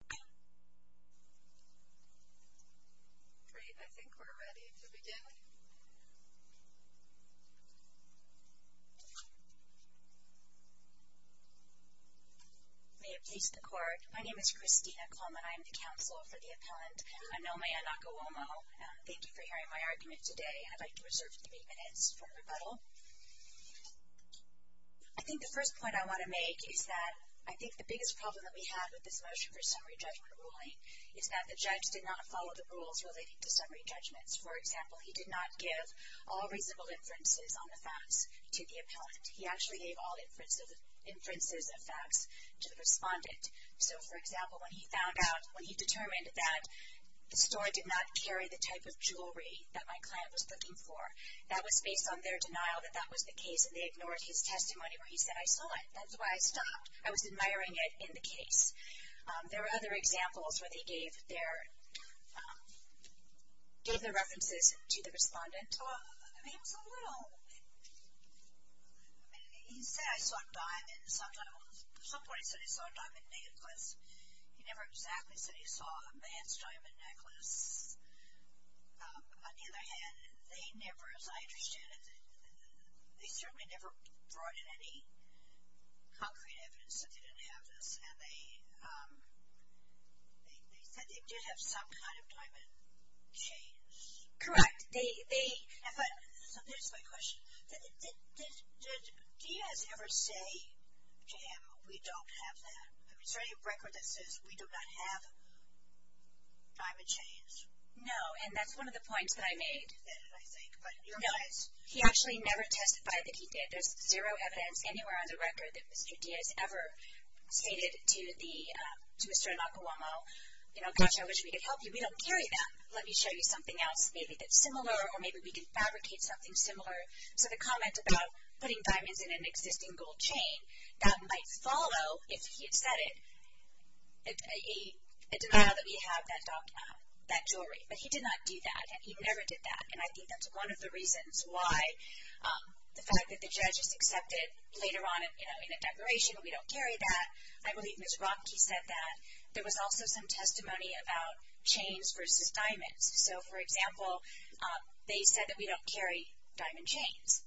I think the first point I want to make is that I think the biggest problem that we have with this motion for summary judgment ruling is that the judge did not follow the rules relating to summary judgments. For example, he did not give all reasonable inferences on the facts to the appellant. He actually gave all inferences of facts to the respondent. So, for example, when he found out, when he determined that the store did not carry the type of jewelry that my client was looking for, that was based on their denial that that was the case and they ignored his testimony where he said, I saw it, that's why I stopped. I was admiring it in the case. There were other examples where they gave their, gave their references to the respondent. I mean, it was a little, I mean, he said, I saw a diamond, sometimes, at some point he said he saw a diamond necklace. He never exactly said he saw a man's diamond necklace. On the other hand, they never, as I understand it, they certainly never brought in any concrete evidence that they didn't have this and they said they did have some kind of diamond chains. Correct. They, they. So, here's my question. Did Diaz ever say to him, we don't have that? Is there any record that says we do not have diamond chains? No, and that's one of the points that I made. No, he actually never testified that he did. There's zero evidence anywhere on the record that Mr. Diaz ever stated to the, to Mr. Nakawamo, you know, gosh, I wish we could help you. We don't carry them. Let me show you something else, maybe that's similar or maybe we can fabricate something similar. So, the comment about putting diamonds in an existing gold chain, that might follow, if he had said it, a denial that we have that, that jewelry, but he did not do that. He never did that, and I think that's one of the reasons why the fact that the judge has accepted later on, you know, in a declaration, we don't carry that. I believe Ms. Rock, he said that. There was also some testimony about chains versus diamonds. So, for example, they said that we don't carry diamond chains,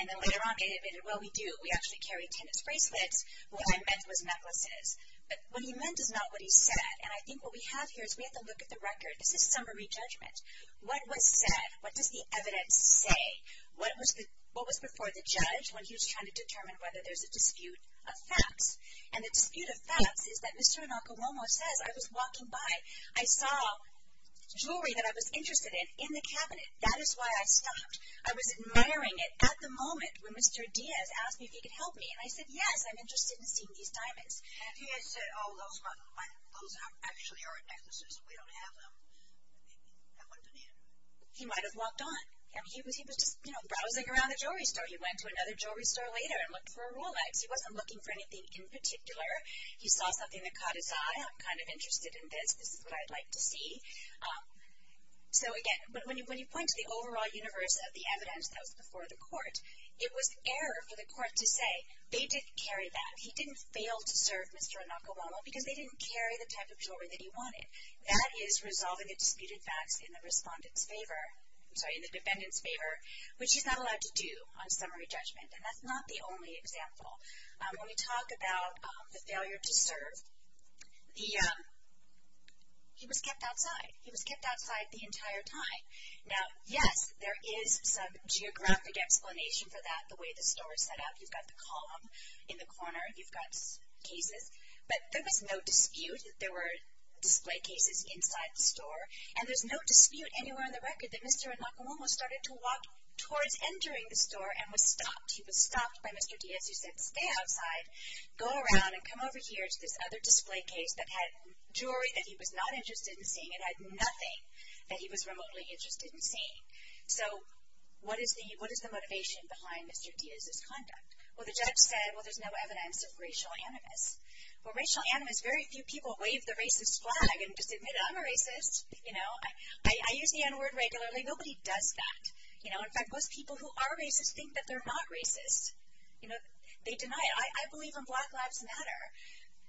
and then later on, they admitted, well, we do, we actually carry tennis bracelets. What I meant was necklaces, but what he meant is not what he said, and I think what we have here is we have to look at the record. This is summary judgment. What was said, what does the evidence say, what was before the judge when he was trying to determine whether there's a dispute of facts, and the dispute of facts is that Mr. Inocuomo says, I was walking by, I saw jewelry that I was interested in, in the cabinet, that is why I stopped. I was admiring it at the moment when Mr. Diaz asked me if he could help me, and I said, yes, I'm interested in seeing these diamonds. And if he had said, oh, those are actually our necklaces, we don't have them, I wouldn't have. He might have walked on. I mean, he was just, you know, browsing around the jewelry store. He went to another jewelry store later and looked for a Rolex. He wasn't looking for anything in particular. He saw something that caught his eye, I'm kind of interested in this, this is what I'd like to see. So, again, when you point to the overall universe of the evidence that was before the court, it was error for the court to say, they didn't carry that. He didn't fail to serve Mr. Inocuomo because they didn't carry the type of jewelry that he wanted. That is resolving the disputed facts in the respondent's favor, I'm sorry, in the defendant's favor, which he's not allowed to do on summary judgment. And that's not the only example. When we talk about the failure to serve, the, he was kept outside. He was kept outside the entire time. Now, yes, there is some geographic explanation for that, the way the store is set up. You've got the column in the corner, you've got cases. But there was no dispute that there were display cases inside the store. And there's no dispute anywhere on the record that Mr. Inocuomo started to walk towards entering the store and was stopped. He was stopped by Mr. Diaz, who said, stay outside, go around and come over here to this other display case that had jewelry that he was not interested in seeing. It had nothing that he was remotely interested in seeing. So, what is the motivation behind Mr. Diaz's conduct? Well, the judge said, well, there's no evidence of racial animus. Well, racial animus, very few people wave the racist flag and just admit, I'm a racist. You know, I use the n-word regularly. Nobody does that. You know, in fact, most people who are racist think that they're not racist. You know, they deny it. I believe in Black Lives Matter.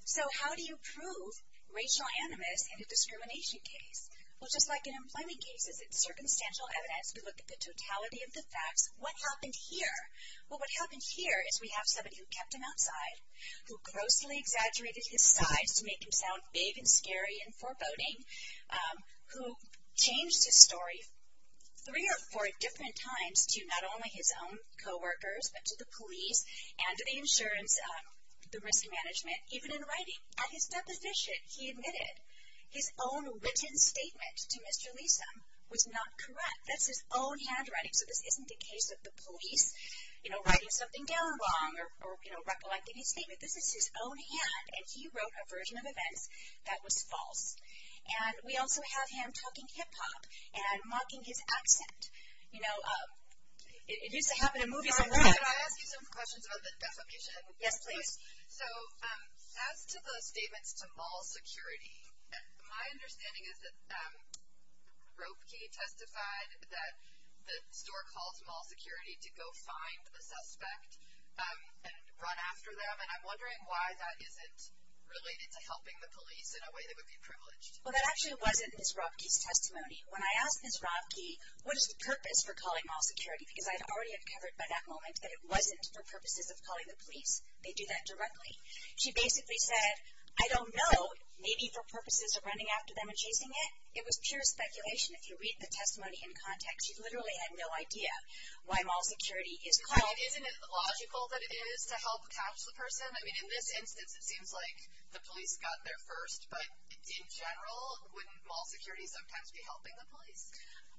So, how do you prove racial animus in a discrimination case? Well, just like in employment cases, it's circumstantial evidence. We look at the totality of the facts. What happened here? Well, what happened here is we have somebody who kept him outside, who grossly exaggerated his size to make him sound big and scary and foreboding, who changed his story three or four different times to not only his own co-workers, but to the police and to the insurance, the risk management. Even in writing at his deposition, he admitted his own written statement to Mr. Leeson was not correct. That's his own handwriting. So, this isn't the case of the police, you know, writing something down wrong or, you know, recollecting his statement. This is his own hand, and he wrote a version of events that was false. And we also have him talking hip-hop and mocking his accent. You know, it used to happen in movies a lot. Can I ask you some questions about the defamation? Yes, please. So, as to the statements to mall security, my understanding is that Roepke testified that the store calls mall security to go find the suspect and run after them. And I'm wondering why that isn't related to helping the police in a way that would be privileged. Well, that actually wasn't Ms. Roepke's testimony. When I asked Ms. Roepke, what is the purpose for calling mall security? Because I had already uncovered by that moment that it wasn't for purposes of calling the police. They do that directly. She basically said, I don't know, maybe for purposes of running after them and chasing it. It was pure speculation. If you read the testimony in context, she literally had no idea why mall security is called. Isn't it logical that it is to help catch the person? I mean, in this instance, it seems like the police got there first. But in general, wouldn't mall security sometimes be helping the police?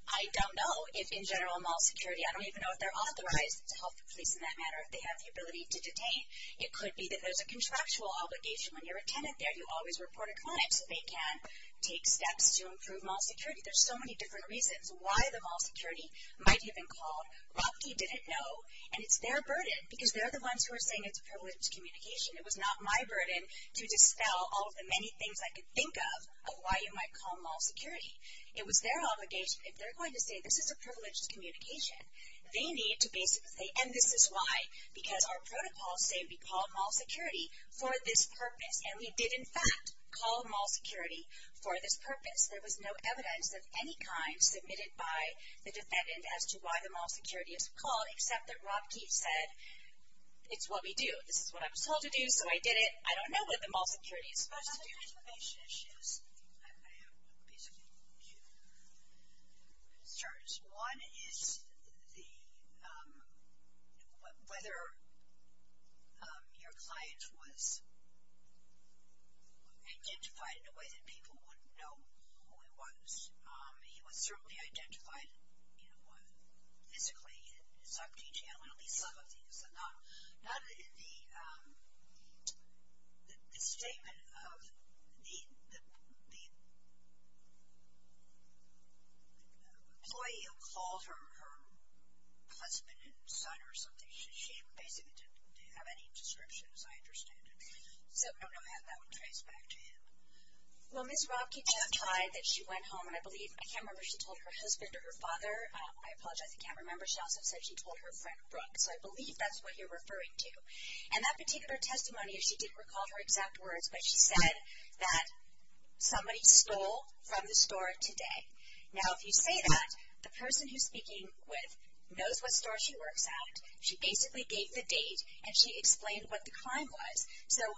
I don't know if in general mall security, I don't even know if they're authorized to help the police in that manner, if they have the ability to detain. It could be that there's a contractual obligation. When you're a tenant there, you always report a crime so they can take steps to improve mall security. There's so many different reasons why the mall security might have been called. Roepke didn't know, and it's their burden because they're the ones who are saying it's a privilege of communication. It was not my burden to dispel all of the many things I could think of of why you might call mall security. It was their obligation. If they're going to say this is a privilege of communication, they need to basically say, and this is why, because our protocols say we call mall security for this purpose. And we did, in fact, call mall security for this purpose. There was no evidence of any kind submitted by the defendant as to why the mall security is called, except that Roepke said, it's what we do. This is what I was told to do, so I did it. I don't know what the mall security is supposed to do. The information issues, I have basically two concerns. One is the, whether your client was identified in a way that people wouldn't know who he was. He was certainly identified, you know, physically in some detail in at least some of these. So not in the statement of the employee who called her her husband and son or something. She basically didn't have any description, as I understand it. So I don't know how that would trace back to him. Well, Ms. Roepke just tried that she went home. And I believe, I can't remember if she told her husband or her father. I apologize, I can't remember. She also said she told her friend, Brooke. So I believe that's what you're referring to. And that particular testimony, she didn't recall her exact words, but she said that somebody stole from the store today. Now if you say that, the person who's speaking with knows what store she works at. She basically gave the date, and she explained what the crime was. So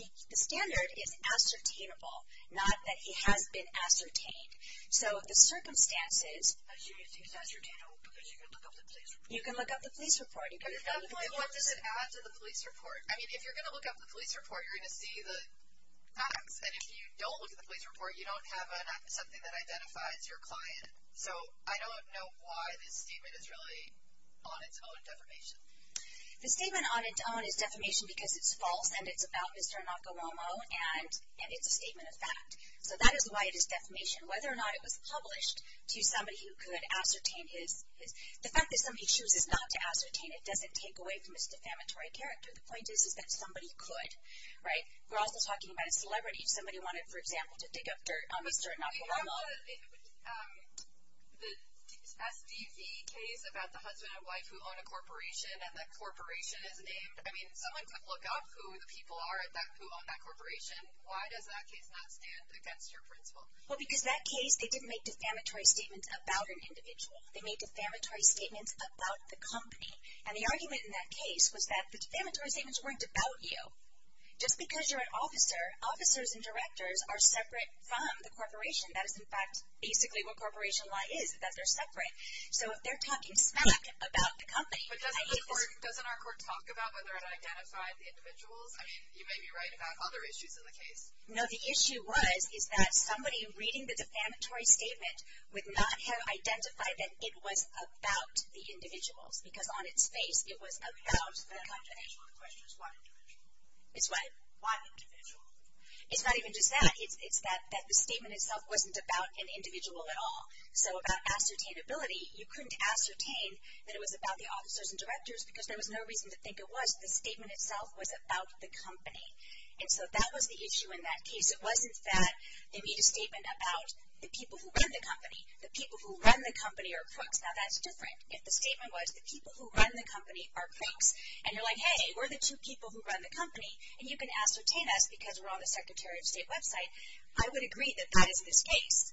the standard is ascertainable, not that he has been ascertained. So the circumstances. You can look up the police report. You can look up the police report. I mean, if you're going to look up the police report, you're going to see the facts. And if you don't look at the police report, you don't have something that identifies your client. So I don't know why this statement is really on its own defamation. The statement on its own is defamation because it's false, and it's about Mr. Nakawomo, and it's a statement of fact. So that is why it is defamation. Whether or not it was published to somebody who could ascertain his, the fact that somebody chooses not to ascertain it doesn't take away from its defamatory character. The point is that somebody could, right? We're also talking about a celebrity. Somebody wanted, for example, to dig up dirt on Mr. Nakawomo. The SDV case about the husband and wife who own a corporation, and that corporation is named. I mean, someone could look up who the people are who own that corporation. Why does that case not stand against your principle? Well, because that case, they didn't make defamatory statements about an individual. They made defamatory statements about the company. And the argument in that case was that the defamatory statements weren't about you. Just because you're an officer, officers and directors are separate from the corporation. That is, in fact, basically what corporation law is, that they're separate. So if they're talking smack about the company, I hate this. But doesn't our court talk about whether it identified the individuals? I mean, you may be right about other issues in the case. No, the issue was, is that somebody reading the defamatory statement would not have identified that it was about the individuals, because on its face, it was about the company. The question is what individual? It's what? What individual? It's not even just that. It's that the statement itself wasn't about an individual at all. So about ascertainability, you couldn't ascertain that it was about the officers and directors, because there was no reason to think it was. The statement itself was about the company. And so that was the issue in that case. It wasn't that they made a statement about the people who run the company. The people who run the company are crooks. Now, that's different. If the statement was the people who run the company are crooks, and you're like, hey, we're the two people who run the company, and you can ascertain us because we're on the Secretary of State website, I would agree that that is this case.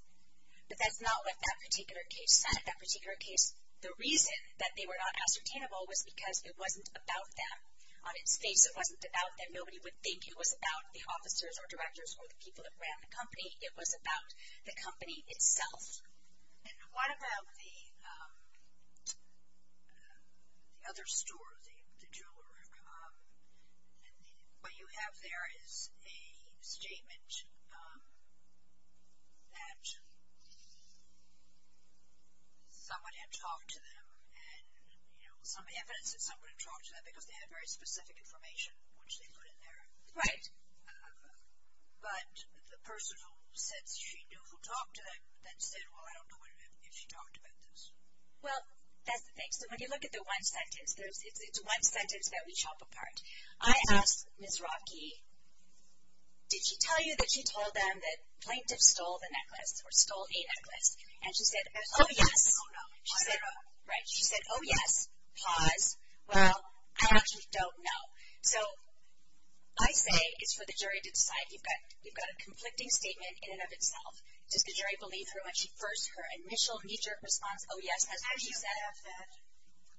But that's not what that particular case said. That particular case, the reason that they were not ascertainable was because it wasn't about them. On its face, it wasn't about them. Nobody would think it was about the officers or directors or the people that ran the company. It was about the company itself. And what about the other store, the jeweler? What you have there is a statement that someone had talked to them, and, you know, some evidence that someone had talked to them, because they had very specific information, which they put in there. Right. But the person who said she knew who talked to them then said, well, I don't know if she talked about this. Well, that's the thing. So, when you look at the one sentence, it's one sentence that we chop apart. I asked Ms. Rocky, did she tell you that she told them that plaintiffs stole the necklace or stole a necklace? And she said, oh, yes. She said, oh, yes. Pause. Well, I actually don't know. So, I say it's for the jury to decide. You've got a conflicting statement in and of itself. Does the jury believe her when she first, her initial knee-jerk response, oh, yes, that's what she said?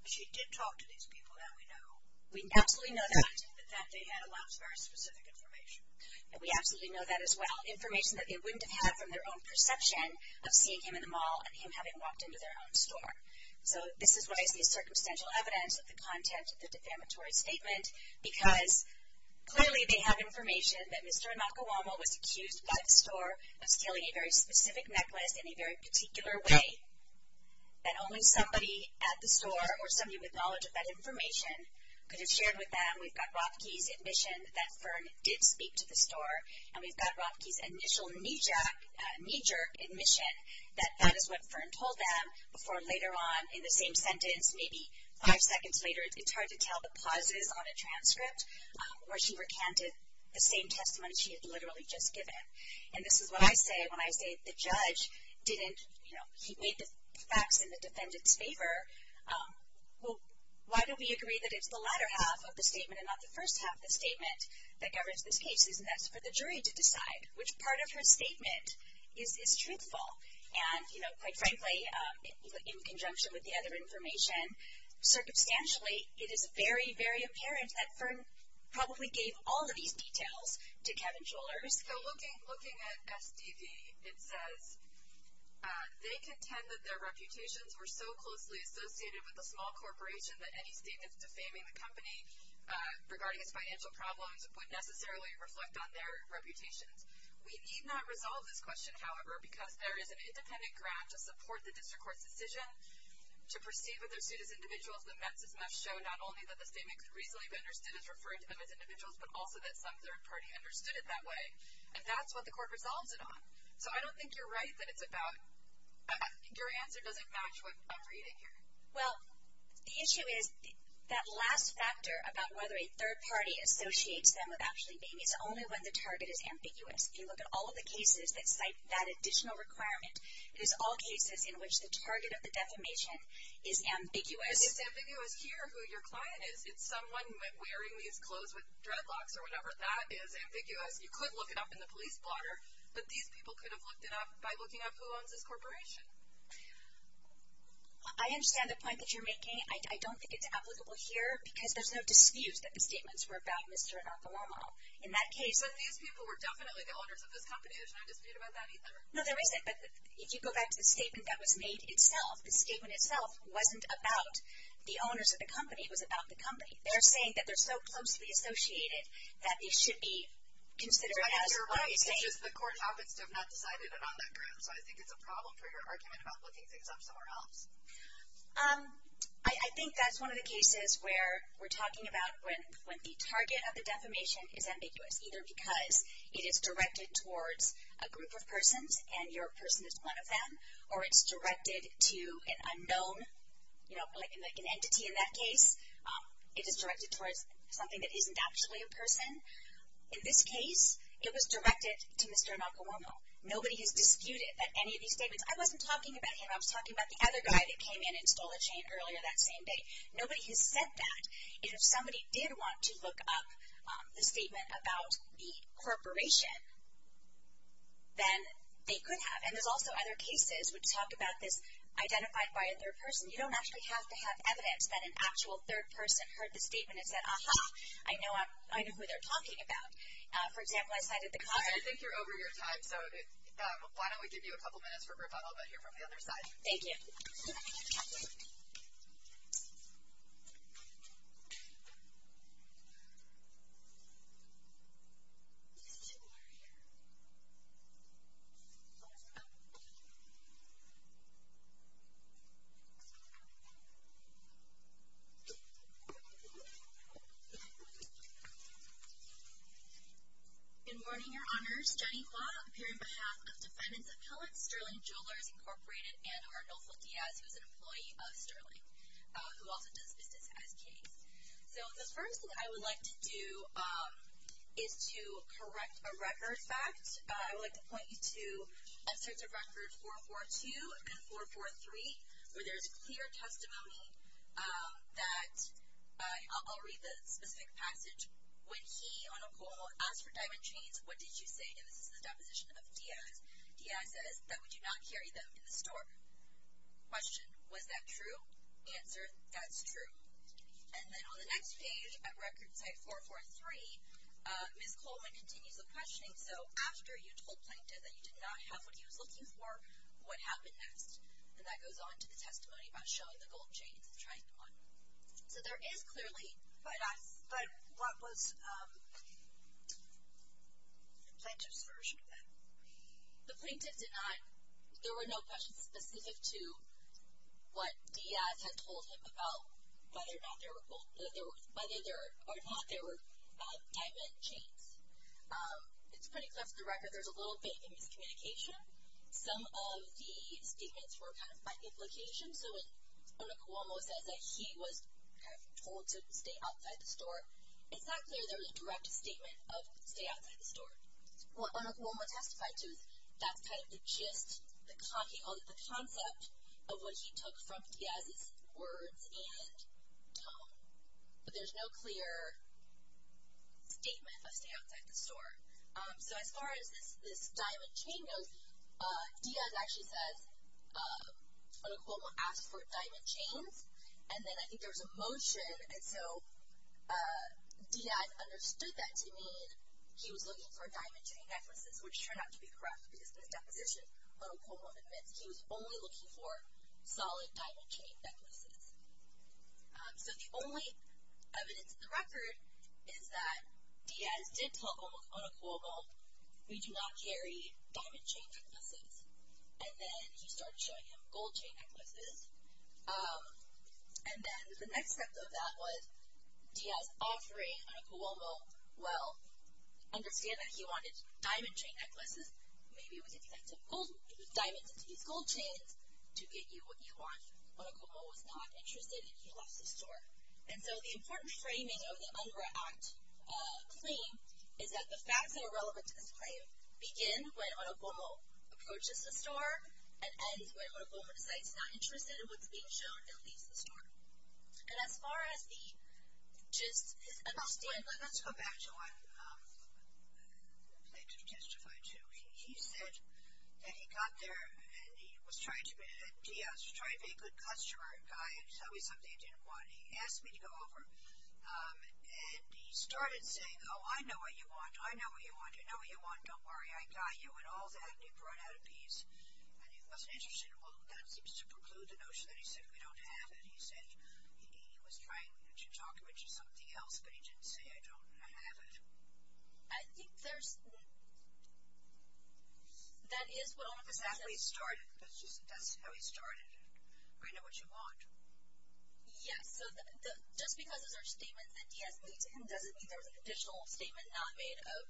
She did talk to these people that we know. We absolutely know that. That they had a lot of very specific information. And we absolutely know that as well. Information that they wouldn't have had from their own perception of seeing him in the mall and him having walked into their own store. So, this is why it's the circumstantial evidence of the content of the defamatory statement. Because clearly they have information that Mr. Nakawamo was accused by the store of stealing a very specific necklace in a very particular way. That only somebody at the store or somebody with knowledge of that information could have shared with them. We've got Rocky's admission that Fern did speak to the store. And we've got Rocky's initial knee-jerk admission that that is what Fern told them. Before later on in the same sentence, maybe five seconds later, it's hard to tell the pauses on a transcript where she recanted the same testimony she had literally just given. And this is what I say when I say the judge didn't, you know, he made the facts in the defendant's favor. Well, why do we agree that it's the latter half of the statement and not the first half of the statement that governs this case? Isn't that for the jury to decide which part of her statement is truthful? And, you know, quite frankly, in conjunction with the other information, circumstantially it is very, very apparent that Fern probably gave all of these details to Kevin Schollers. So looking at SDV, it says, they contend that their reputations were so closely associated with a small corporation that any statements defaming the company regarding its financial problems would necessarily reflect on their reputations. We need not resolve this question, however, because there is an independent ground to support the district court's decision to perceive of their suit as individuals that met this must show not only that the statement could reasonably be understood as referring to them as individuals, but also that some third party understood it that way. And that's what the court resolves it on. So I don't think you're right that it's about, your answer doesn't match what I'm reading here. Well, the issue is that last factor about whether a third party associates them with Ashley Bain is only when the target is ambiguous. If you look at all of the cases that cite that additional requirement, it is all cases in which the target of the defamation is ambiguous. It's ambiguous here who your client is. It's someone wearing these clothes with dreadlocks or whatever. That is ambiguous. You could look it up in the police blotter, but these people could have looked it up by looking up who owns this corporation. I understand the point that you're making. I don't think it's applicable here because there's no dispute that the statements were about Mr. and Dr. Loma. In that case. But these people were definitely the owners of this company. There's no dispute about that either. No, there isn't. But if you go back to the statement that was made itself, the statement itself wasn't about the owners of the company. It was about the company. They're saying that they're so closely associated that they should be considered as. I think you're right. It's just the court happens to have not decided it on that ground. So I think it's a problem for your argument about looking things up somewhere else. I think that's one of the cases where we're talking about when the target of the defamation is ambiguous, either because it is directed towards a group of persons and your person is one of them or it's directed to an unknown, you know, like an entity in that case, it is directed towards something that isn't actually a person. In this case, it was directed to Mr. and Dr. Loma. Nobody has disputed that any of these statements. I wasn't talking about him. I was talking about the other guy that came in and stole a chain earlier that same day. Nobody has said that. And if somebody did want to look up the statement about the corporation, then they could have. And there's also other cases which talk about this identified by a third person. You don't actually have to have evidence that an actual third person heard the statement and said, aha, I know who they're talking about. For example, I cited the. I think you're over your time. So, why don't we give you a couple minutes for rebuttal, but hear from the other side. Thank you. Good morning, Your Honors. Jenny Klawe, appearing on behalf of Defendants Appellate, Sterling Jewelers, Incorporated, and Arnulfo Diaz, who is an employee of Sterling, who also does business as case. So, the first thing I would like to do is to correct a record fact. I would like to point you to excerpts of record 442 and 443, where there's clear testimony that I'll read the specific passage. When he, on a call, asked for diamond chains, what did you say? And this is the deposition of Diaz. Diaz says that we do not carry them in the store. Question, was that true? Answer, that's true. And then on the next page, at record type 443, Ms. Coleman continues the questioning. So, after you told Plankton that you did not have what he was looking for, what happened next? And that goes on to the testimony about showing the gold chains of trying on. So, there is clearly, but what was Plankton's version of that? The Plankton did not, there were no questions specific to what Diaz had told him about whether or not there were diamond chains. It's pretty clear from the record, there's a little bit of miscommunication. Some of the statements were kind of by implication. So, when Onokuomo says that he was kind of told to stay outside the store, it's not clear there was a direct statement of stay outside the store. What Onokuomo testified to is that's kind of the gist, the concept of what he took from Diaz's words and tone, but there's no clear statement of stay outside the store. So, as far as this diamond chain goes, Diaz actually says, Onokuomo asked for diamond chains, and then I think there was a motion, and so Diaz understood that to mean he was looking for diamond chain necklaces, which turned out to be correct, because in his deposition, Onokuomo admits he was only looking for solid diamond chain necklaces. So, the only evidence in the record is that Diaz did tell Onokuomo, we do not carry diamond chain necklaces, and then he started showing him gold chain necklaces, and then the next step of that was Diaz offering Onokuomo, well, understand that he wanted diamond chain necklaces, maybe we could give you diamonds and these gold chains to get you what you want. Onokuomo was not interested, and he left the store, and so the important framing of the UNGRA Act claim is that the facts that are relevant to this claim begin when Onokuomo approaches the store and ends when Onokuomo decides he's not interested in what's being shown and leaves the store, and as far as the gist, his understanding. Let's go back to what the plaintiff testified to. He said that he got there, and he was trying to, Diaz was trying to be a good customer, a guy, and tell me something he didn't want, and he asked me to go over, and he started saying, oh, I know what you want, I know what you want, you know what you want, don't worry, I got you, and all that, and he brought out a piece, and he wasn't interested, well, that seems to preclude the notion that he said we don't have it. He said he was trying to talk him into something else, but he didn't say, I don't have it. I think there's, that is what Onokuomo says. That's how he started, that's how he started, I know what you want. Yes, so just because those are statements that Diaz made to him doesn't mean there was an additional statement not made of,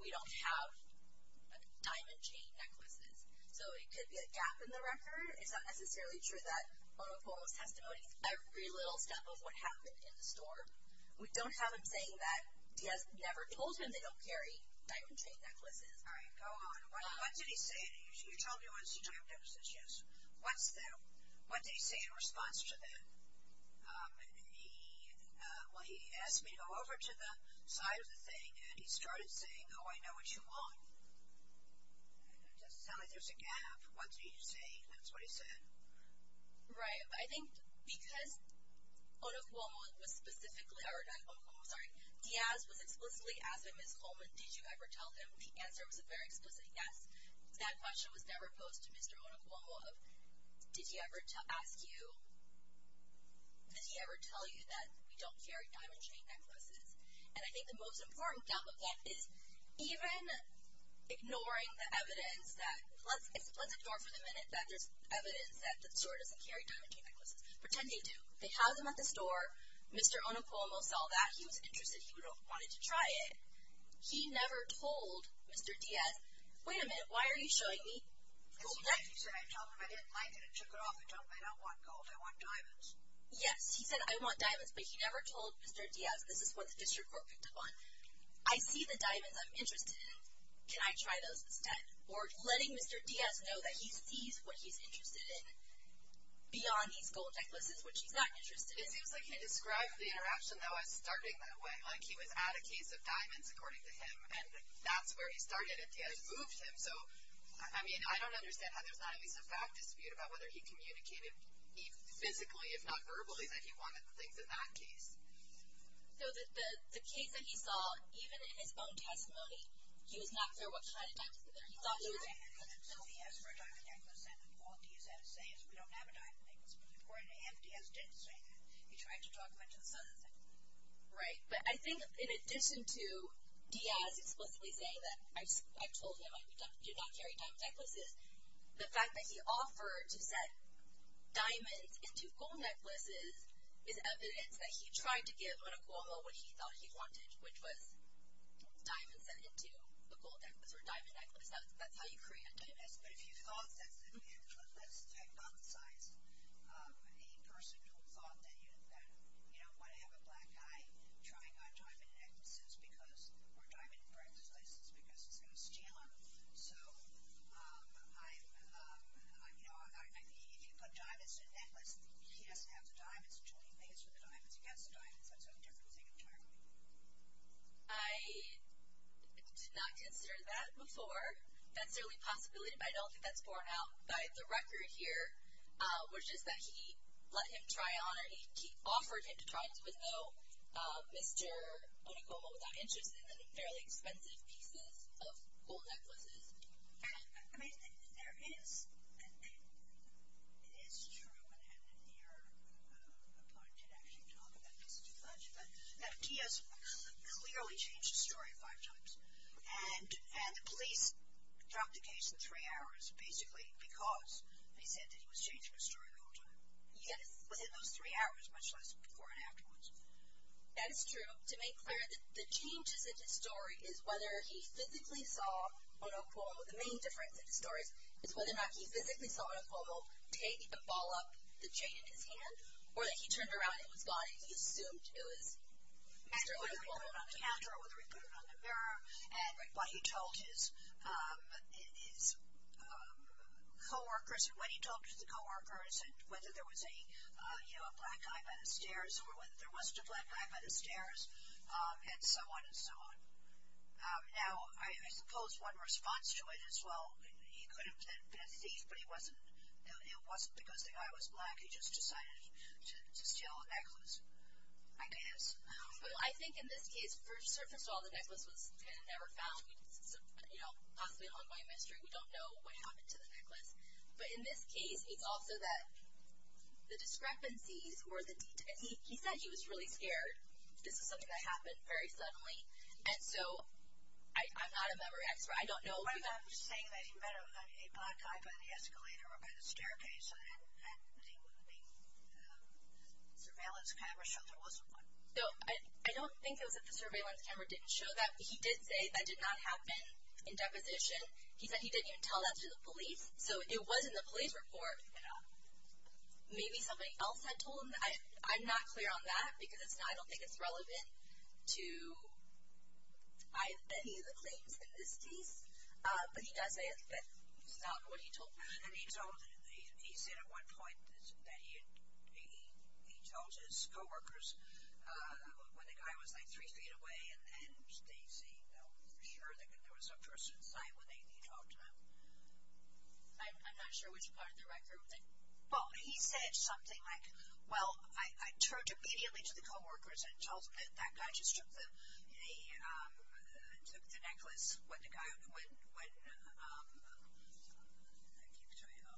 we don't have diamond chain necklaces, so it could be a gap in the record. It's not necessarily true that Onokuomo's testimony is every little step of what happened in the store. We don't have him saying that Diaz never told him they don't carry diamond chain necklaces. All right, go on. What did he say? You told me it was, you told me it was, yes. What's the, what did he say in response to that? He, well, he asked me to go over to the side of the thing, and he started saying, oh, I know what you want, doesn't sound like there's a gap. What did he say? That's what he said. Right, I think because Onokuomo was specifically, or not Onokuomo, sorry, Diaz was explicitly asking Ms. Holman, did you ever tell him? The answer was a very explicit yes. That question was never posed to Mr. Onokuomo of, did he ever ask you, did he ever tell you that we don't carry diamond chain necklaces? And I think the most important gap of that is even ignoring the evidence that, it's a pleasant door for the minute that there's evidence that the store doesn't carry diamond chain necklaces. Pretend they do. They have them at the store. Mr. Onokuomo saw that. He was interested. He wanted to try it. He never told Mr. Diaz, wait a minute, why are you showing me gold necklaces? He said, I told him I didn't like it, I took it off, I don't want gold, I want diamonds. Yes, he said, I want diamonds, but he never told Mr. Diaz, this is what the district court picked up on. I see the diamonds I'm interested in, can I try those instead? Or letting Mr. Diaz know that he sees what he's interested in, beyond these gold necklaces, which he's not interested in. It seems like he described the interaction, though, as starting that way. Like he was at a case of diamonds, according to him, and that's where he started, and Diaz moved him, so, I mean, I don't understand how there's not at least a fact dispute about whether he communicated physically, if not verbally, that he wanted things in that case. No, the case that he saw, even in his own testimony, he was not clear what kind of diamonds that he thought he was interested in. He asked for a diamond necklace, and what Diaz had to say is, we don't have a diamond necklace, but according to him, Diaz didn't say that. He tried to talk him into this other thing. Right, but I think in addition to Diaz explicitly saying that, I told him, I do not carry diamond necklaces, the fact that he offered to set diamonds into gold necklaces is evidence that he tried to give Monaco, what he thought he wanted, which was diamonds sent into the gold necklace, or diamond necklace. That's how you create a diamond necklace. But if you thought that's, let's hypothesize a person who thought that, you know, why have a black guy trying on diamond necklaces because, or diamond bracelets, is because he's going to steal them, so, you know, if you put diamonds in a necklace, he has to have the diamonds until he makes the diamonds against the diamonds. So it's a different thing entirely. I did not consider that before. That's certainly a possibility, but I don't think that's borne out by the record here, which is that he let him try on, or he offered him to try on, even though Mr. Monaco was not interested in fairly expensive pieces of gold necklaces. And, I mean, there is, it is true, and I haven't been here a month to actually talk about this too much, but he has clearly changed his story five times. And the police dropped the case in three hours, basically, because they said that he was changing his story all the time. Yet within those three hours, much less before and afterwards. That is true. To make clear, the changes in his story is whether he physically saw Monaco, the main difference in the stories, is whether or not he physically saw Monaco take a ball up the chain in his hand, or that he turned around and it was gone, and he assumed it was. And whether he put it on the counter, or whether he put it on the mirror, and what he told his co-workers, or what he told his co-workers, and whether there was a, you know, a black guy by the stairs, or whether there wasn't a black guy by the stairs, and so on, and so on. Now, I suppose one response to it is, well, he could have been a thief, but he wasn't, it wasn't because the guy was black, he just decided to steal a necklace, I guess. Well, I think in this case, first of all, the necklace was kind of never found, you know, possibly a long way in history, we don't know what happened to the necklace. But in this case, it's also that the discrepancies, or the details, he said he was really scared, this is something that happened very suddenly, and so, I'm not a memory expert, I don't know. I'm just saying that he met a black guy by the escalator, or by the staircase, and the surveillance camera showed there wasn't one. So, I don't think it was that the surveillance camera didn't show that, he did say that did not happen in deposition, he said he didn't even tell that to the police, so it was in the police report, maybe somebody else had told him, I'm not clear on that, because it's not, I don't think it's relevant to any of the claims in this case, but he does say it's not what he told police. And then he told, he said at one point that he had, he told his co-workers, when the guy was like three feet away, and they seemed sure that there was a person inside, when he talked to them, I'm not sure which part of the record, but he said something like, well, I turned immediately to the co-workers and told them that that guy just took the necklace, when the guy, when, I can't tell you how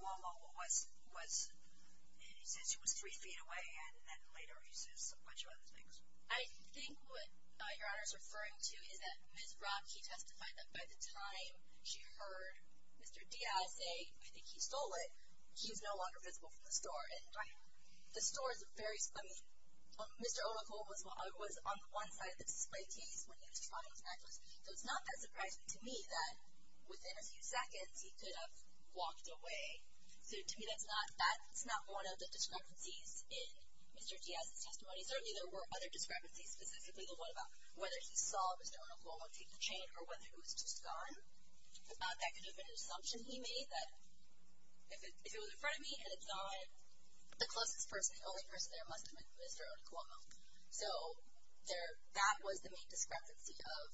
long, how long, was, and he said she was three feet away, and then later he says a bunch of other things. I think what Your Honor is referring to is that Ms. Rock, he testified that by the time she heard Mr. Diaz say, I think he stole it, he's no longer visible from the store, and the store is very, I mean, Mr. Onokuo was on one side of the display case when he was trying his necklace, so it's not that surprising to me that within a few seconds he could have walked away. So to me that's not, that's not one of the discrepancies in Mr. Diaz's testimony. Certainly there were other discrepancies, specifically the one about whether he saw Mr. Onokuo take the chain or whether he was just gone. That could have been an assumption he made, that if it was in front of me and it's not the closest person, the only person there must have been Mr. Onokuo. So there, that was the main discrepancy of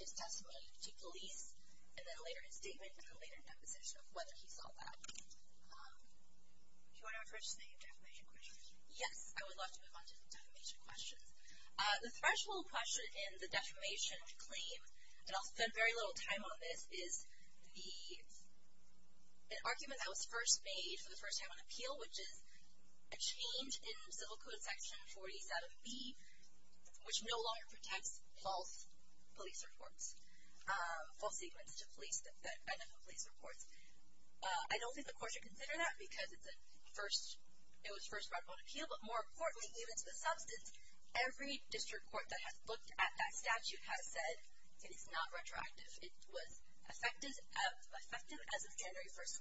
his testimony to police, and then a later statement and a later deposition of whether he saw that. Do you want to refresh the defamation question? Yes, I would love to move on to the defamation questions. The threshold question in the defamation claim, and I'll spend very little time on this, is the, an argument that was first made for the first time on appeal, which is a change in civil code section 47B, which no longer protects false police reports, false statements to police that identify police reports. I don't think the court should consider that because it's a first, it was first brought up on appeal, but more importantly, even to the substance, every district court that has looked at that statute has said it is not retroactive. It was effective as of January 1st,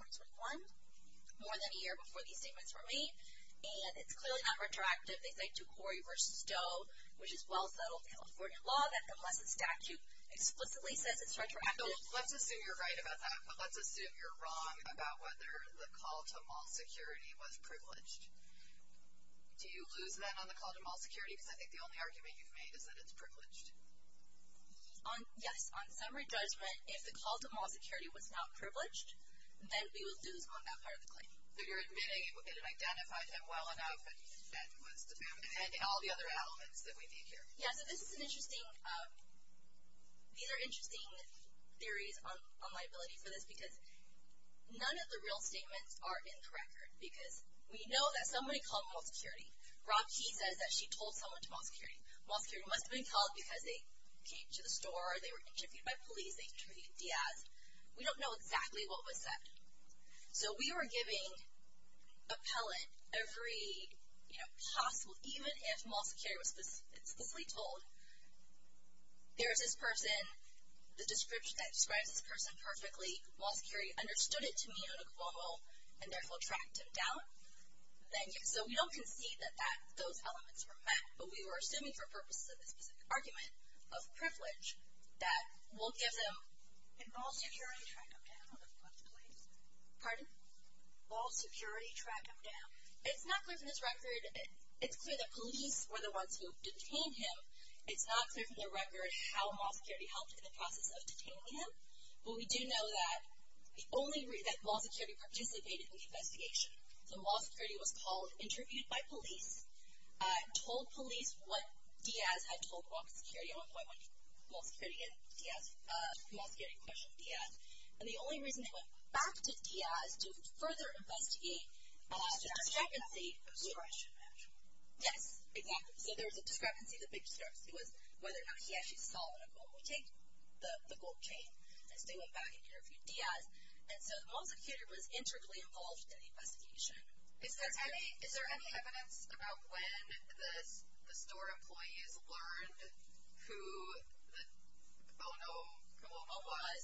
2021, more than a year before these statements were made, and it's clearly not retroactive. They say to Corey v. Stowe, which is well settled California law, that unless a statute explicitly says it's retroactive. So let's assume you're right about that, but let's assume you're wrong about whether the call to mall security was privileged. Do you lose then on the call to mall security? Because I think the only argument you've made is that it's privileged. Yes, on summary judgment, if the call to mall security was not privileged, then we would lose on that part of the claim. So you're admitting it identified him well enough, and all the other elements that we need here. Yeah, so this is an interesting, these are interesting theories on liability for this because none of the real statements are in the record, because we know that somebody called mall security. Rob Key says that she told someone to mall security. Mall security must have been called because they came to the store, they were interviewed by police, they interviewed Diaz. We don't know exactly what was said. So we are giving appellate every, you know, possible, even if mall security was explicitly told. There's this person, the description that describes this person perfectly. Mall security understood it to mean an acquittal, and therefore tracked him down. So we don't concede that those elements were met, but we were assuming for purposes of this specific argument of privilege that we'll give them. And mall security tracked him down? Pardon? Mall security tracked him down? It's not clear from this record. It's clear that police were the ones who detained him. It's not clear from the record how mall security helped in the process of detaining him. But we do know that the only reason that mall security participated in the investigation, so mall security was called, interviewed by police, told police what Diaz had told mall security on one point when mall security questioned Diaz. And the only reason they went back to Diaz to further investigate was the discrepancy. There was a discrepancy of discretion, actually. Yes, exactly. So there was a discrepancy, the big discrepancy, was whether or not he actually saw it or not. But we take the gold chain, as they went back and interviewed Diaz. And so mall security was integrally involved in the investigation. Is there any evidence about when the store employees learned who the, oh no, what was?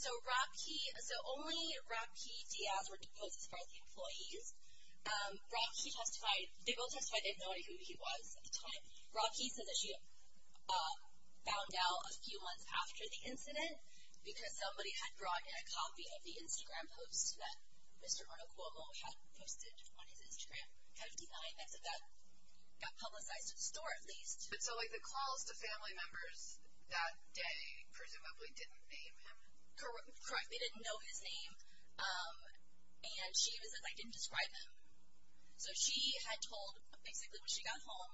So only Rob Kee, Diaz were deposed as part of the employees. Rob Kee testified, they both testified they had no idea who he was at the time. Rob Kee said that she had found out a few months after the incident because somebody had brought in a copy of the Instagram post that Mr. Arnold Cuomo had posted on his Instagram. Kind of deep behind that. So that got publicized to the store, at least. So like the calls to family members that day presumably didn't name him? Correct. They didn't know his name. And she was like, I didn't describe him. So she had told, basically when she got home,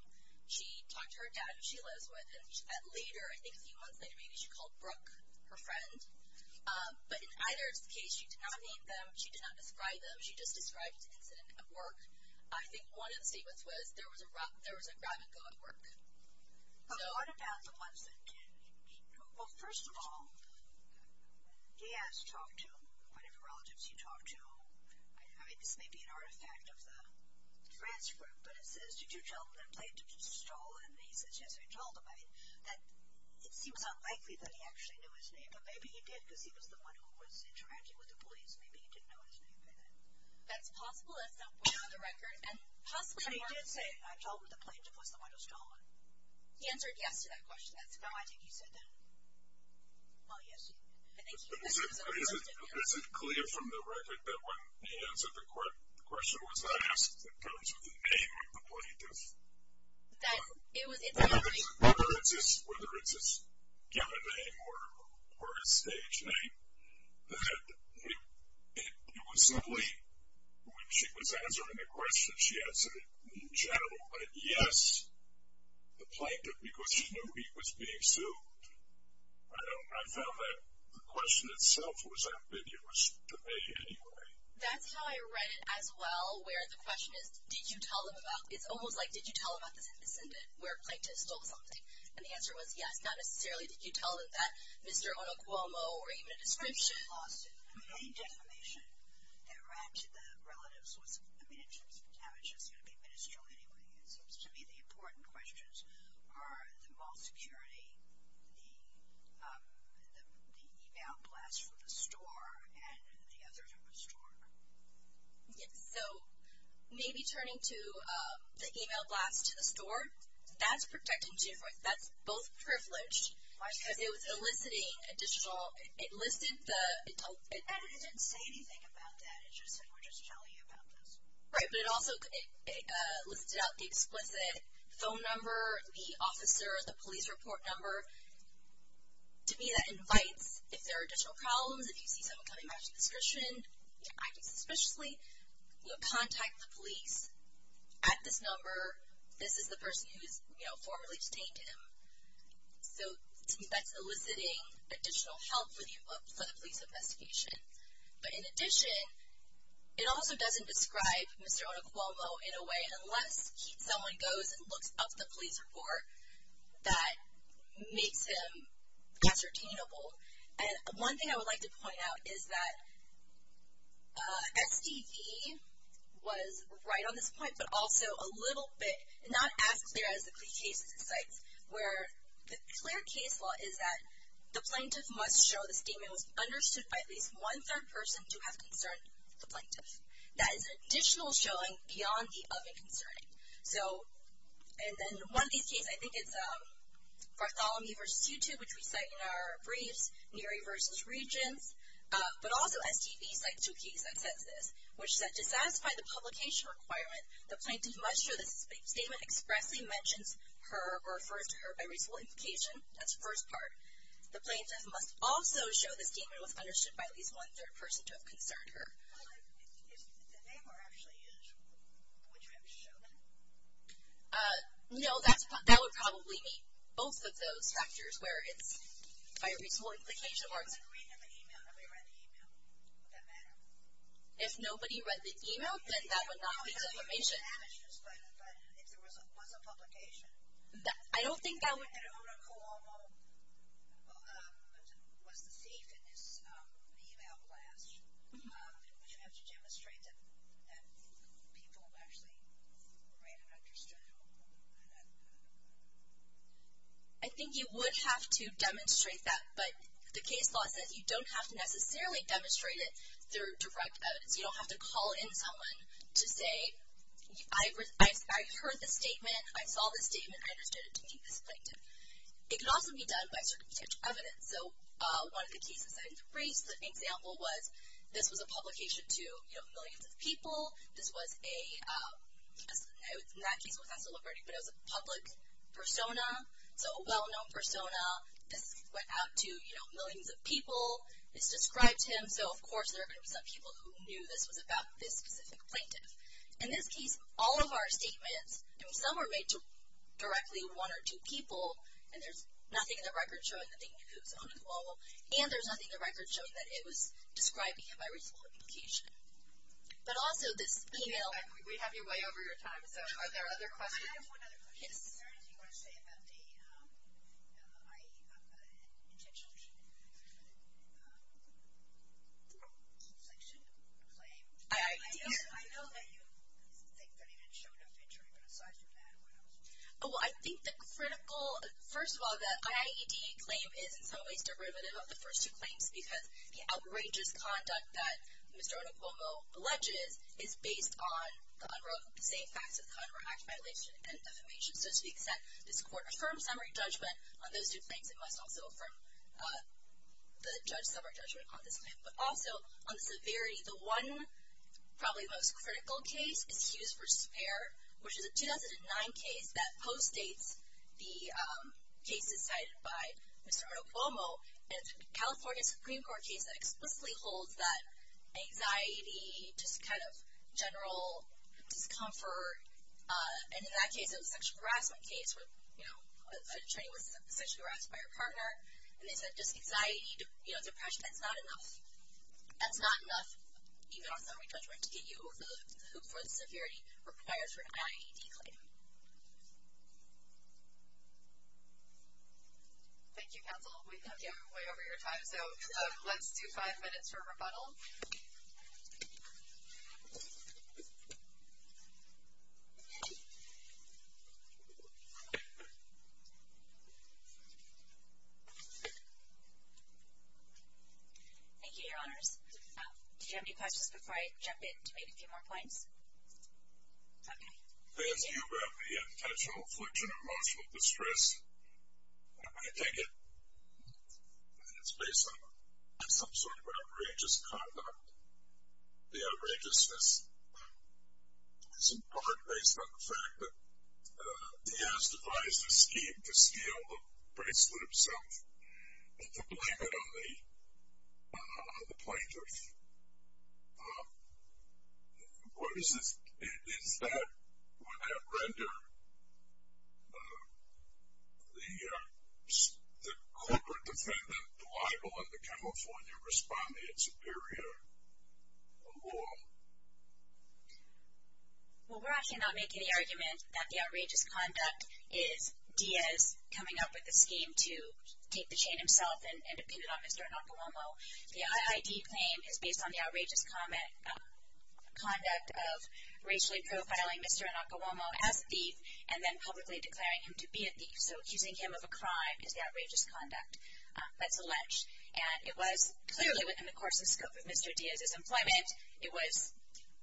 she talked to her dad, who she lives with, and later, I think a few months later maybe, she called Brooke her friend. But in either case, she did not name them. She did not describe them. She just described the incident at work. I think one of the statements was there was a grab-and-go at work. So what about the ones that, well, first of all, Diaz talked to whatever relatives he talked to. I mean, this may be an artifact of the transcript, but it says, did you tell them that a plaintiff was stolen? And he says, yes, I told him. I mean, it seems unlikely that he actually knew his name. But maybe he did because he was the one who was interacting with the police. Maybe he didn't know his name by then. That's possible. That's not what's on the record. But he did say, I told him the plaintiff was the one who stole him. He answered yes to that question. No, I think he said that. Well, yes, he did. But is it clear from the record that when he answered the question was not asked, it comes with the name of the plaintiff? Whether it's his given name or his stage name, that it was only when she was answering the question she answered it in general. But yes, the plaintiff, because she knew he was being sued. I found that the question itself was ambiguous to me anyway. That's how I read it as well, where the question is, did you tell them about, it's almost like, did you tell them about this incident where a plaintiff stole something? And the answer was yes, not necessarily did you tell them that, Mr. Onocuomo, or even a description. I mean, any defamation that ran to the relatives was, I mean, in terms of damage, it's going to be ministerial anyway. It seems to me the important questions are the mall security, the e-mail blast from the store, and the others at the store. Yes, so maybe turning to the e-mail blast to the store, that's protecting Jim Royce, that's both privileged. Because it was eliciting additional, it listed the. And it didn't say anything about that, it just said we're just telling you about this. Right, but it also listed out the explicit phone number, the officer, the police report number. To me that invites, if there are additional problems, if you see someone coming back to the description, acting suspiciously, contact the police at this number. This is the person who has formerly detained him. So to me that's eliciting additional help for the police investigation. But in addition, it also doesn't describe Mr. Onocuomo in a way, unless someone goes and looks up the police report, that makes him ascertainable. And one thing I would like to point out is that SDV was right on this point, but also a little bit, not as clear as the plea cases it cites, where the clear case law is that the plaintiff must show the statement was understood by at least one-third person to have concerned the plaintiff. That is an additional showing beyond the of and concerning. So, and then one of these cases, I think it's Bartholomew versus U2, which we cite in our briefs, Neary versus Regents, but also SDV cites two cases that says this, which said to satisfy the publication requirement, the plaintiff must show the statement expressly mentions her or refers to her by reasonable implication. That's the first part. The plaintiff must also show the statement was understood by at least one-third person to have concerned her. If the name were actually used, would you have to show them? No, that would probably meet both of those factors, where it's by reasonable implication or it's. If nobody read the email, nobody read the email. Would that matter? If nobody read the email, then that would not meet the information. But if there was a publication. I don't think that would. And if Una Cuomo was the thief in this email blast, would you have to demonstrate that people actually read and understood? I think you would have to demonstrate that, but the case law says you don't have to necessarily demonstrate it through direct evidence. You don't have to call in someone to say, I heard the statement, I saw the statement, I understood it to be the plaintiff. It can also be done by circumstantial evidence. So one of the cases I briefed, an example was, this was a publication to millions of people. This was a, in that case it was not a celebrity, but it was a public persona, so a well-known persona. This went out to, you know, millions of people. This described him, so of course there are going to be some people who knew this was about this specific plaintiff. In this case, all of our statements, I mean some were made to directly one or two people, and there's nothing in the record showing that they knew it was Una Cuomo, and there's nothing in the record showing that it was describing him by reasonable implication. But also, this email... We have you way over your time, so are there other questions? I have one other question. Is there anything you want to say about the IAEA, the intention of the IAEA deflection claim? I know that you think that he didn't show enough injury, but aside from that, what else? Oh, I think the critical, first of all, the IAEA claim is in some ways derivative of the first two claims, because the outrageous conduct that Mr. Una Cuomo alleges is based on the same facts of the UNRRA Act violation and affirmation. So to the extent this court affirms summary judgment on those two claims, it must also affirm the separate judgment on this claim. But also, on the severity, the one probably most critical case is Hughes v. Spare, which is a 2009 case that postdates the cases cited by Mr. Una Cuomo, and it's a California Supreme Court case that explicitly holds that anxiety, just kind of general discomfort, and in that case, it was a sexual harassment case where an attorney was sexually harassed by her partner, and they said just anxiety, depression, that's not enough, even on summary judgment, to get you the hoop for the severity required for an IAED claim. Thank you. Thank you, counsel. We have gotten way over your time, so let's do five minutes for rebuttal. Thank you, Your Honors. Do you have any questions before I jump in to make a few more points? Okay. As you have the potential infliction of emotional distress, I take it that it's based on some sort of an outrageous conduct. The outrageousness is in part based on the fact that he has devised a scheme to steal the bracelet himself and to blame it on the plaintiff. What is this? Is that, would that render the corporate defendant liable in the California Respondent-Superior Law? Well, we're actually not making the argument that the outrageous conduct is Diaz coming up with a scheme to take the chain himself and pin it on Mr. Nakawomo. The IAED claim is based on the outrageous conduct of racially profiling Mr. Nakawomo as a thief and then publicly declaring him to be a thief. So, accusing him of a crime is the outrageous conduct. That's alleged. And it was clearly within the course and scope of Mr. Diaz's employment. It was,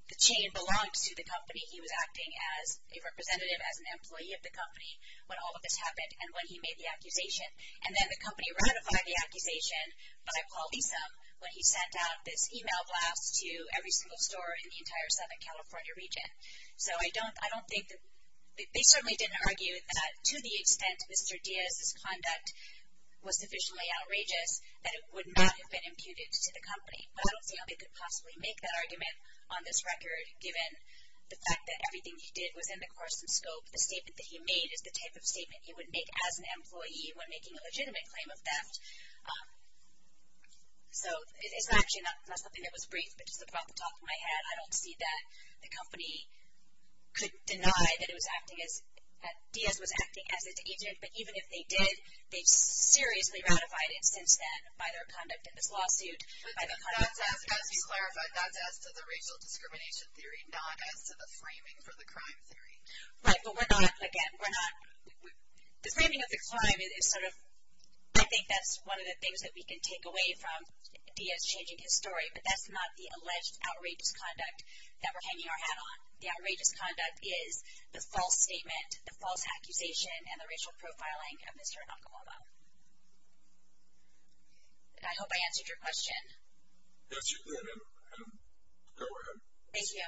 the chain belonged to the company. He was acting as a representative, as an employee of the company when all of this happened and when he made the accusation. And then the company ratified the accusation by Paul Easom when he sent out this email blast to every single store in the entire Southern California region. So, I don't think, they certainly didn't argue that to the extent Mr. Diaz's conduct was sufficiently outrageous that it would not have been imputed to the company. I don't see how they could possibly make that argument on this record given the fact that everything he did was in the course and scope. The statement that he made is the type of statement he would make as an employee when making a legitimate claim of theft. So, it's actually not something that was brief, but just about the top of my head. I don't see that the company could deny that it was acting as, that Diaz was acting as an agent. But even if they did, they've seriously ratified it since then by their conduct in this lawsuit. But that's as, as you clarified, that's as to the racial discrimination theory, not as to the framing for the crime theory. Right, but we're not, again, we're not, the framing of the crime is sort of, I think that's one of the things that we can take away from Diaz changing his story. But that's not the alleged outrageous conduct that we're hanging our hat on. The outrageous conduct is the false statement, the false accusation, and the racial profiling of Mr. Anacolama. I hope I answered your question. Yes, you did, and go ahead. Thank you.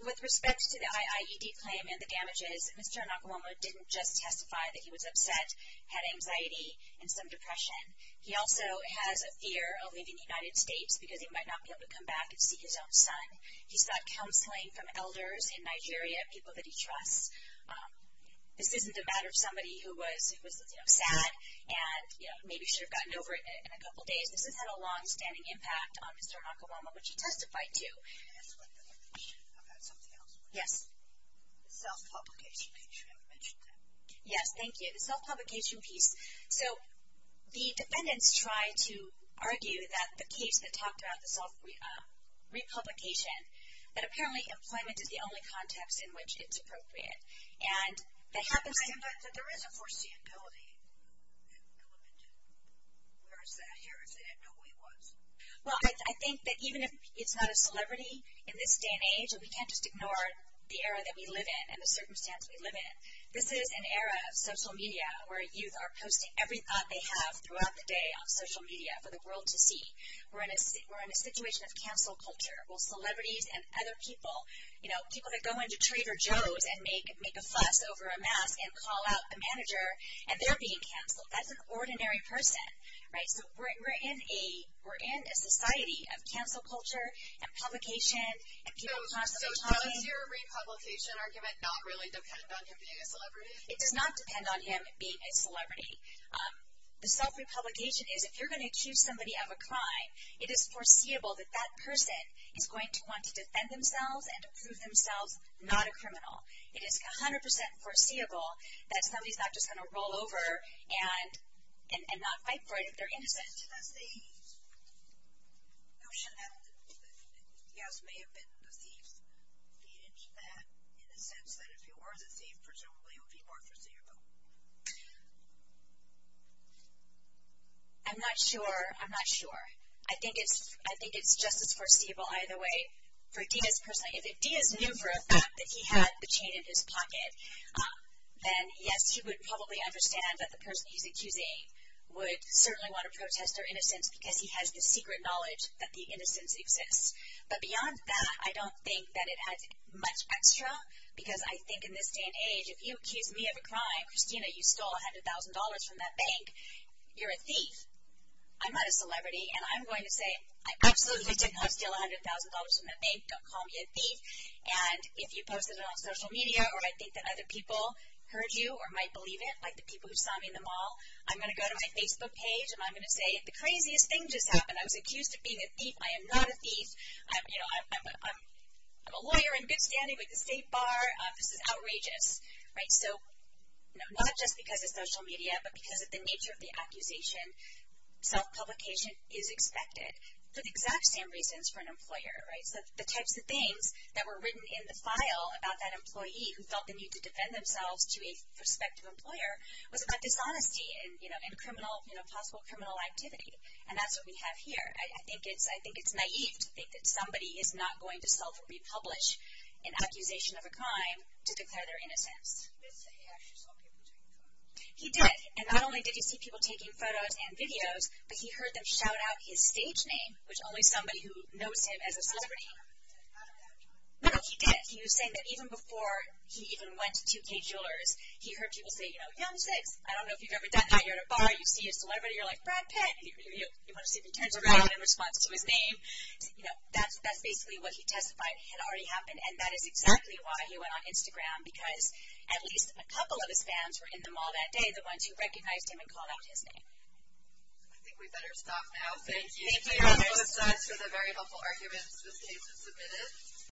With respect to the IIED claim and the damages, Mr. Anacolama didn't just testify that he was upset, had anxiety, and some depression. He also has a fear of leaving the United States because he might not be able to come back and see his own son. He's got counseling from elders in Nigeria, people that he trusts. This isn't a matter of somebody who was, you know, sad, and, you know, maybe should have gotten over it in a couple days. This has had a long-standing impact on Mr. Anacolama, which he testified to. Can I ask one other question? I've got something else. The self-publication piece. Yes, thank you. The self-publication piece. The defendants tried to argue that the case that talked about the self-republication that apparently employment is the only context in which it's appropriate. And that happens to... But there is a foreseeability element to it. Where is that here? If they didn't know who he was? Well, I think that even if it's not a celebrity in this day and age, we can't just ignore the era that we live in and the circumstance we live in. This is an era of social media where youth are posting every thought they have throughout the day on social media for the world to see. We're in a situation of cancel culture where celebrities and other people, you know, people that go into Trader Joe's and make a fuss over a mask and call out a manager, and they're being canceled. That's an ordinary person, right? We're in a society of cancel culture and publication and people constantly telling... So does your republication argument not really depend on him being a celebrity? It does not depend on him being a celebrity. The self-republication is, if you're going to accuse somebody of a crime, it is foreseeable that that person is going to want to defend themselves and prove themselves not a criminal. It is 100% foreseeable that somebody's not just going to roll over and not fight for it if they're innocent. Who should have... Yes, it may have been the thief. Feed into that in the sense that if you were the thief, presumably it would be more foreseeable. I'm not sure. I'm not sure. I think it's just as foreseeable either way. For Diaz personally, if Diaz knew for a fact that he had the chain in his pocket, then yes, she would probably understand that the person he's accusing would certainly want to protest their innocence because he has the secret knowledge that the innocence exists. But beyond that, I don't think that it adds much extra because I think in this day and age, if you accuse me of a crime, Christina, you stole $100,000 from that bank, you're a thief. I'm not a celebrity and I'm going to say I absolutely did not steal $100,000 from that bank. Don't call me a thief. If you posted it on social media or I think that other people heard you or might believe it, like the people who saw me in the mall, I'm going to go to my Facebook page and I'm going to say the craziest thing just happened. I was accused of being a thief. I am not a thief. I'm a lawyer. I'm good standing with the state bar. This is outrageous. Not just because of social media, but because of the nature of the accusation, self-publication is expected for the exact same reasons for an employer. The types of things that were written in the file about that employee who felt the need to defend themselves to a prospective employer was about dishonesty and possible criminal activity. And that's what we have here. I think it's naive to think that somebody is not going to self-republish in accusation of a crime to declare their innocence. He did. And not only did he see people taking photos and videos, but he heard them shout out his stage name, which only somebody who knows him as a celebrity... No, he did. He was saying that even before he even went to 2K Jewelers, he heard people say, you know, I don't know if you've ever done that. You're at a bar. You see a celebrity. You're like, Brad Pitt. You want to see if he turns around in response to his name. That's basically what he testified had already happened and that is exactly why he went on Instagram because at least a couple of his fans were in the mall that day, the ones who recognized him and called out his name. I think we better stop now. Thank you.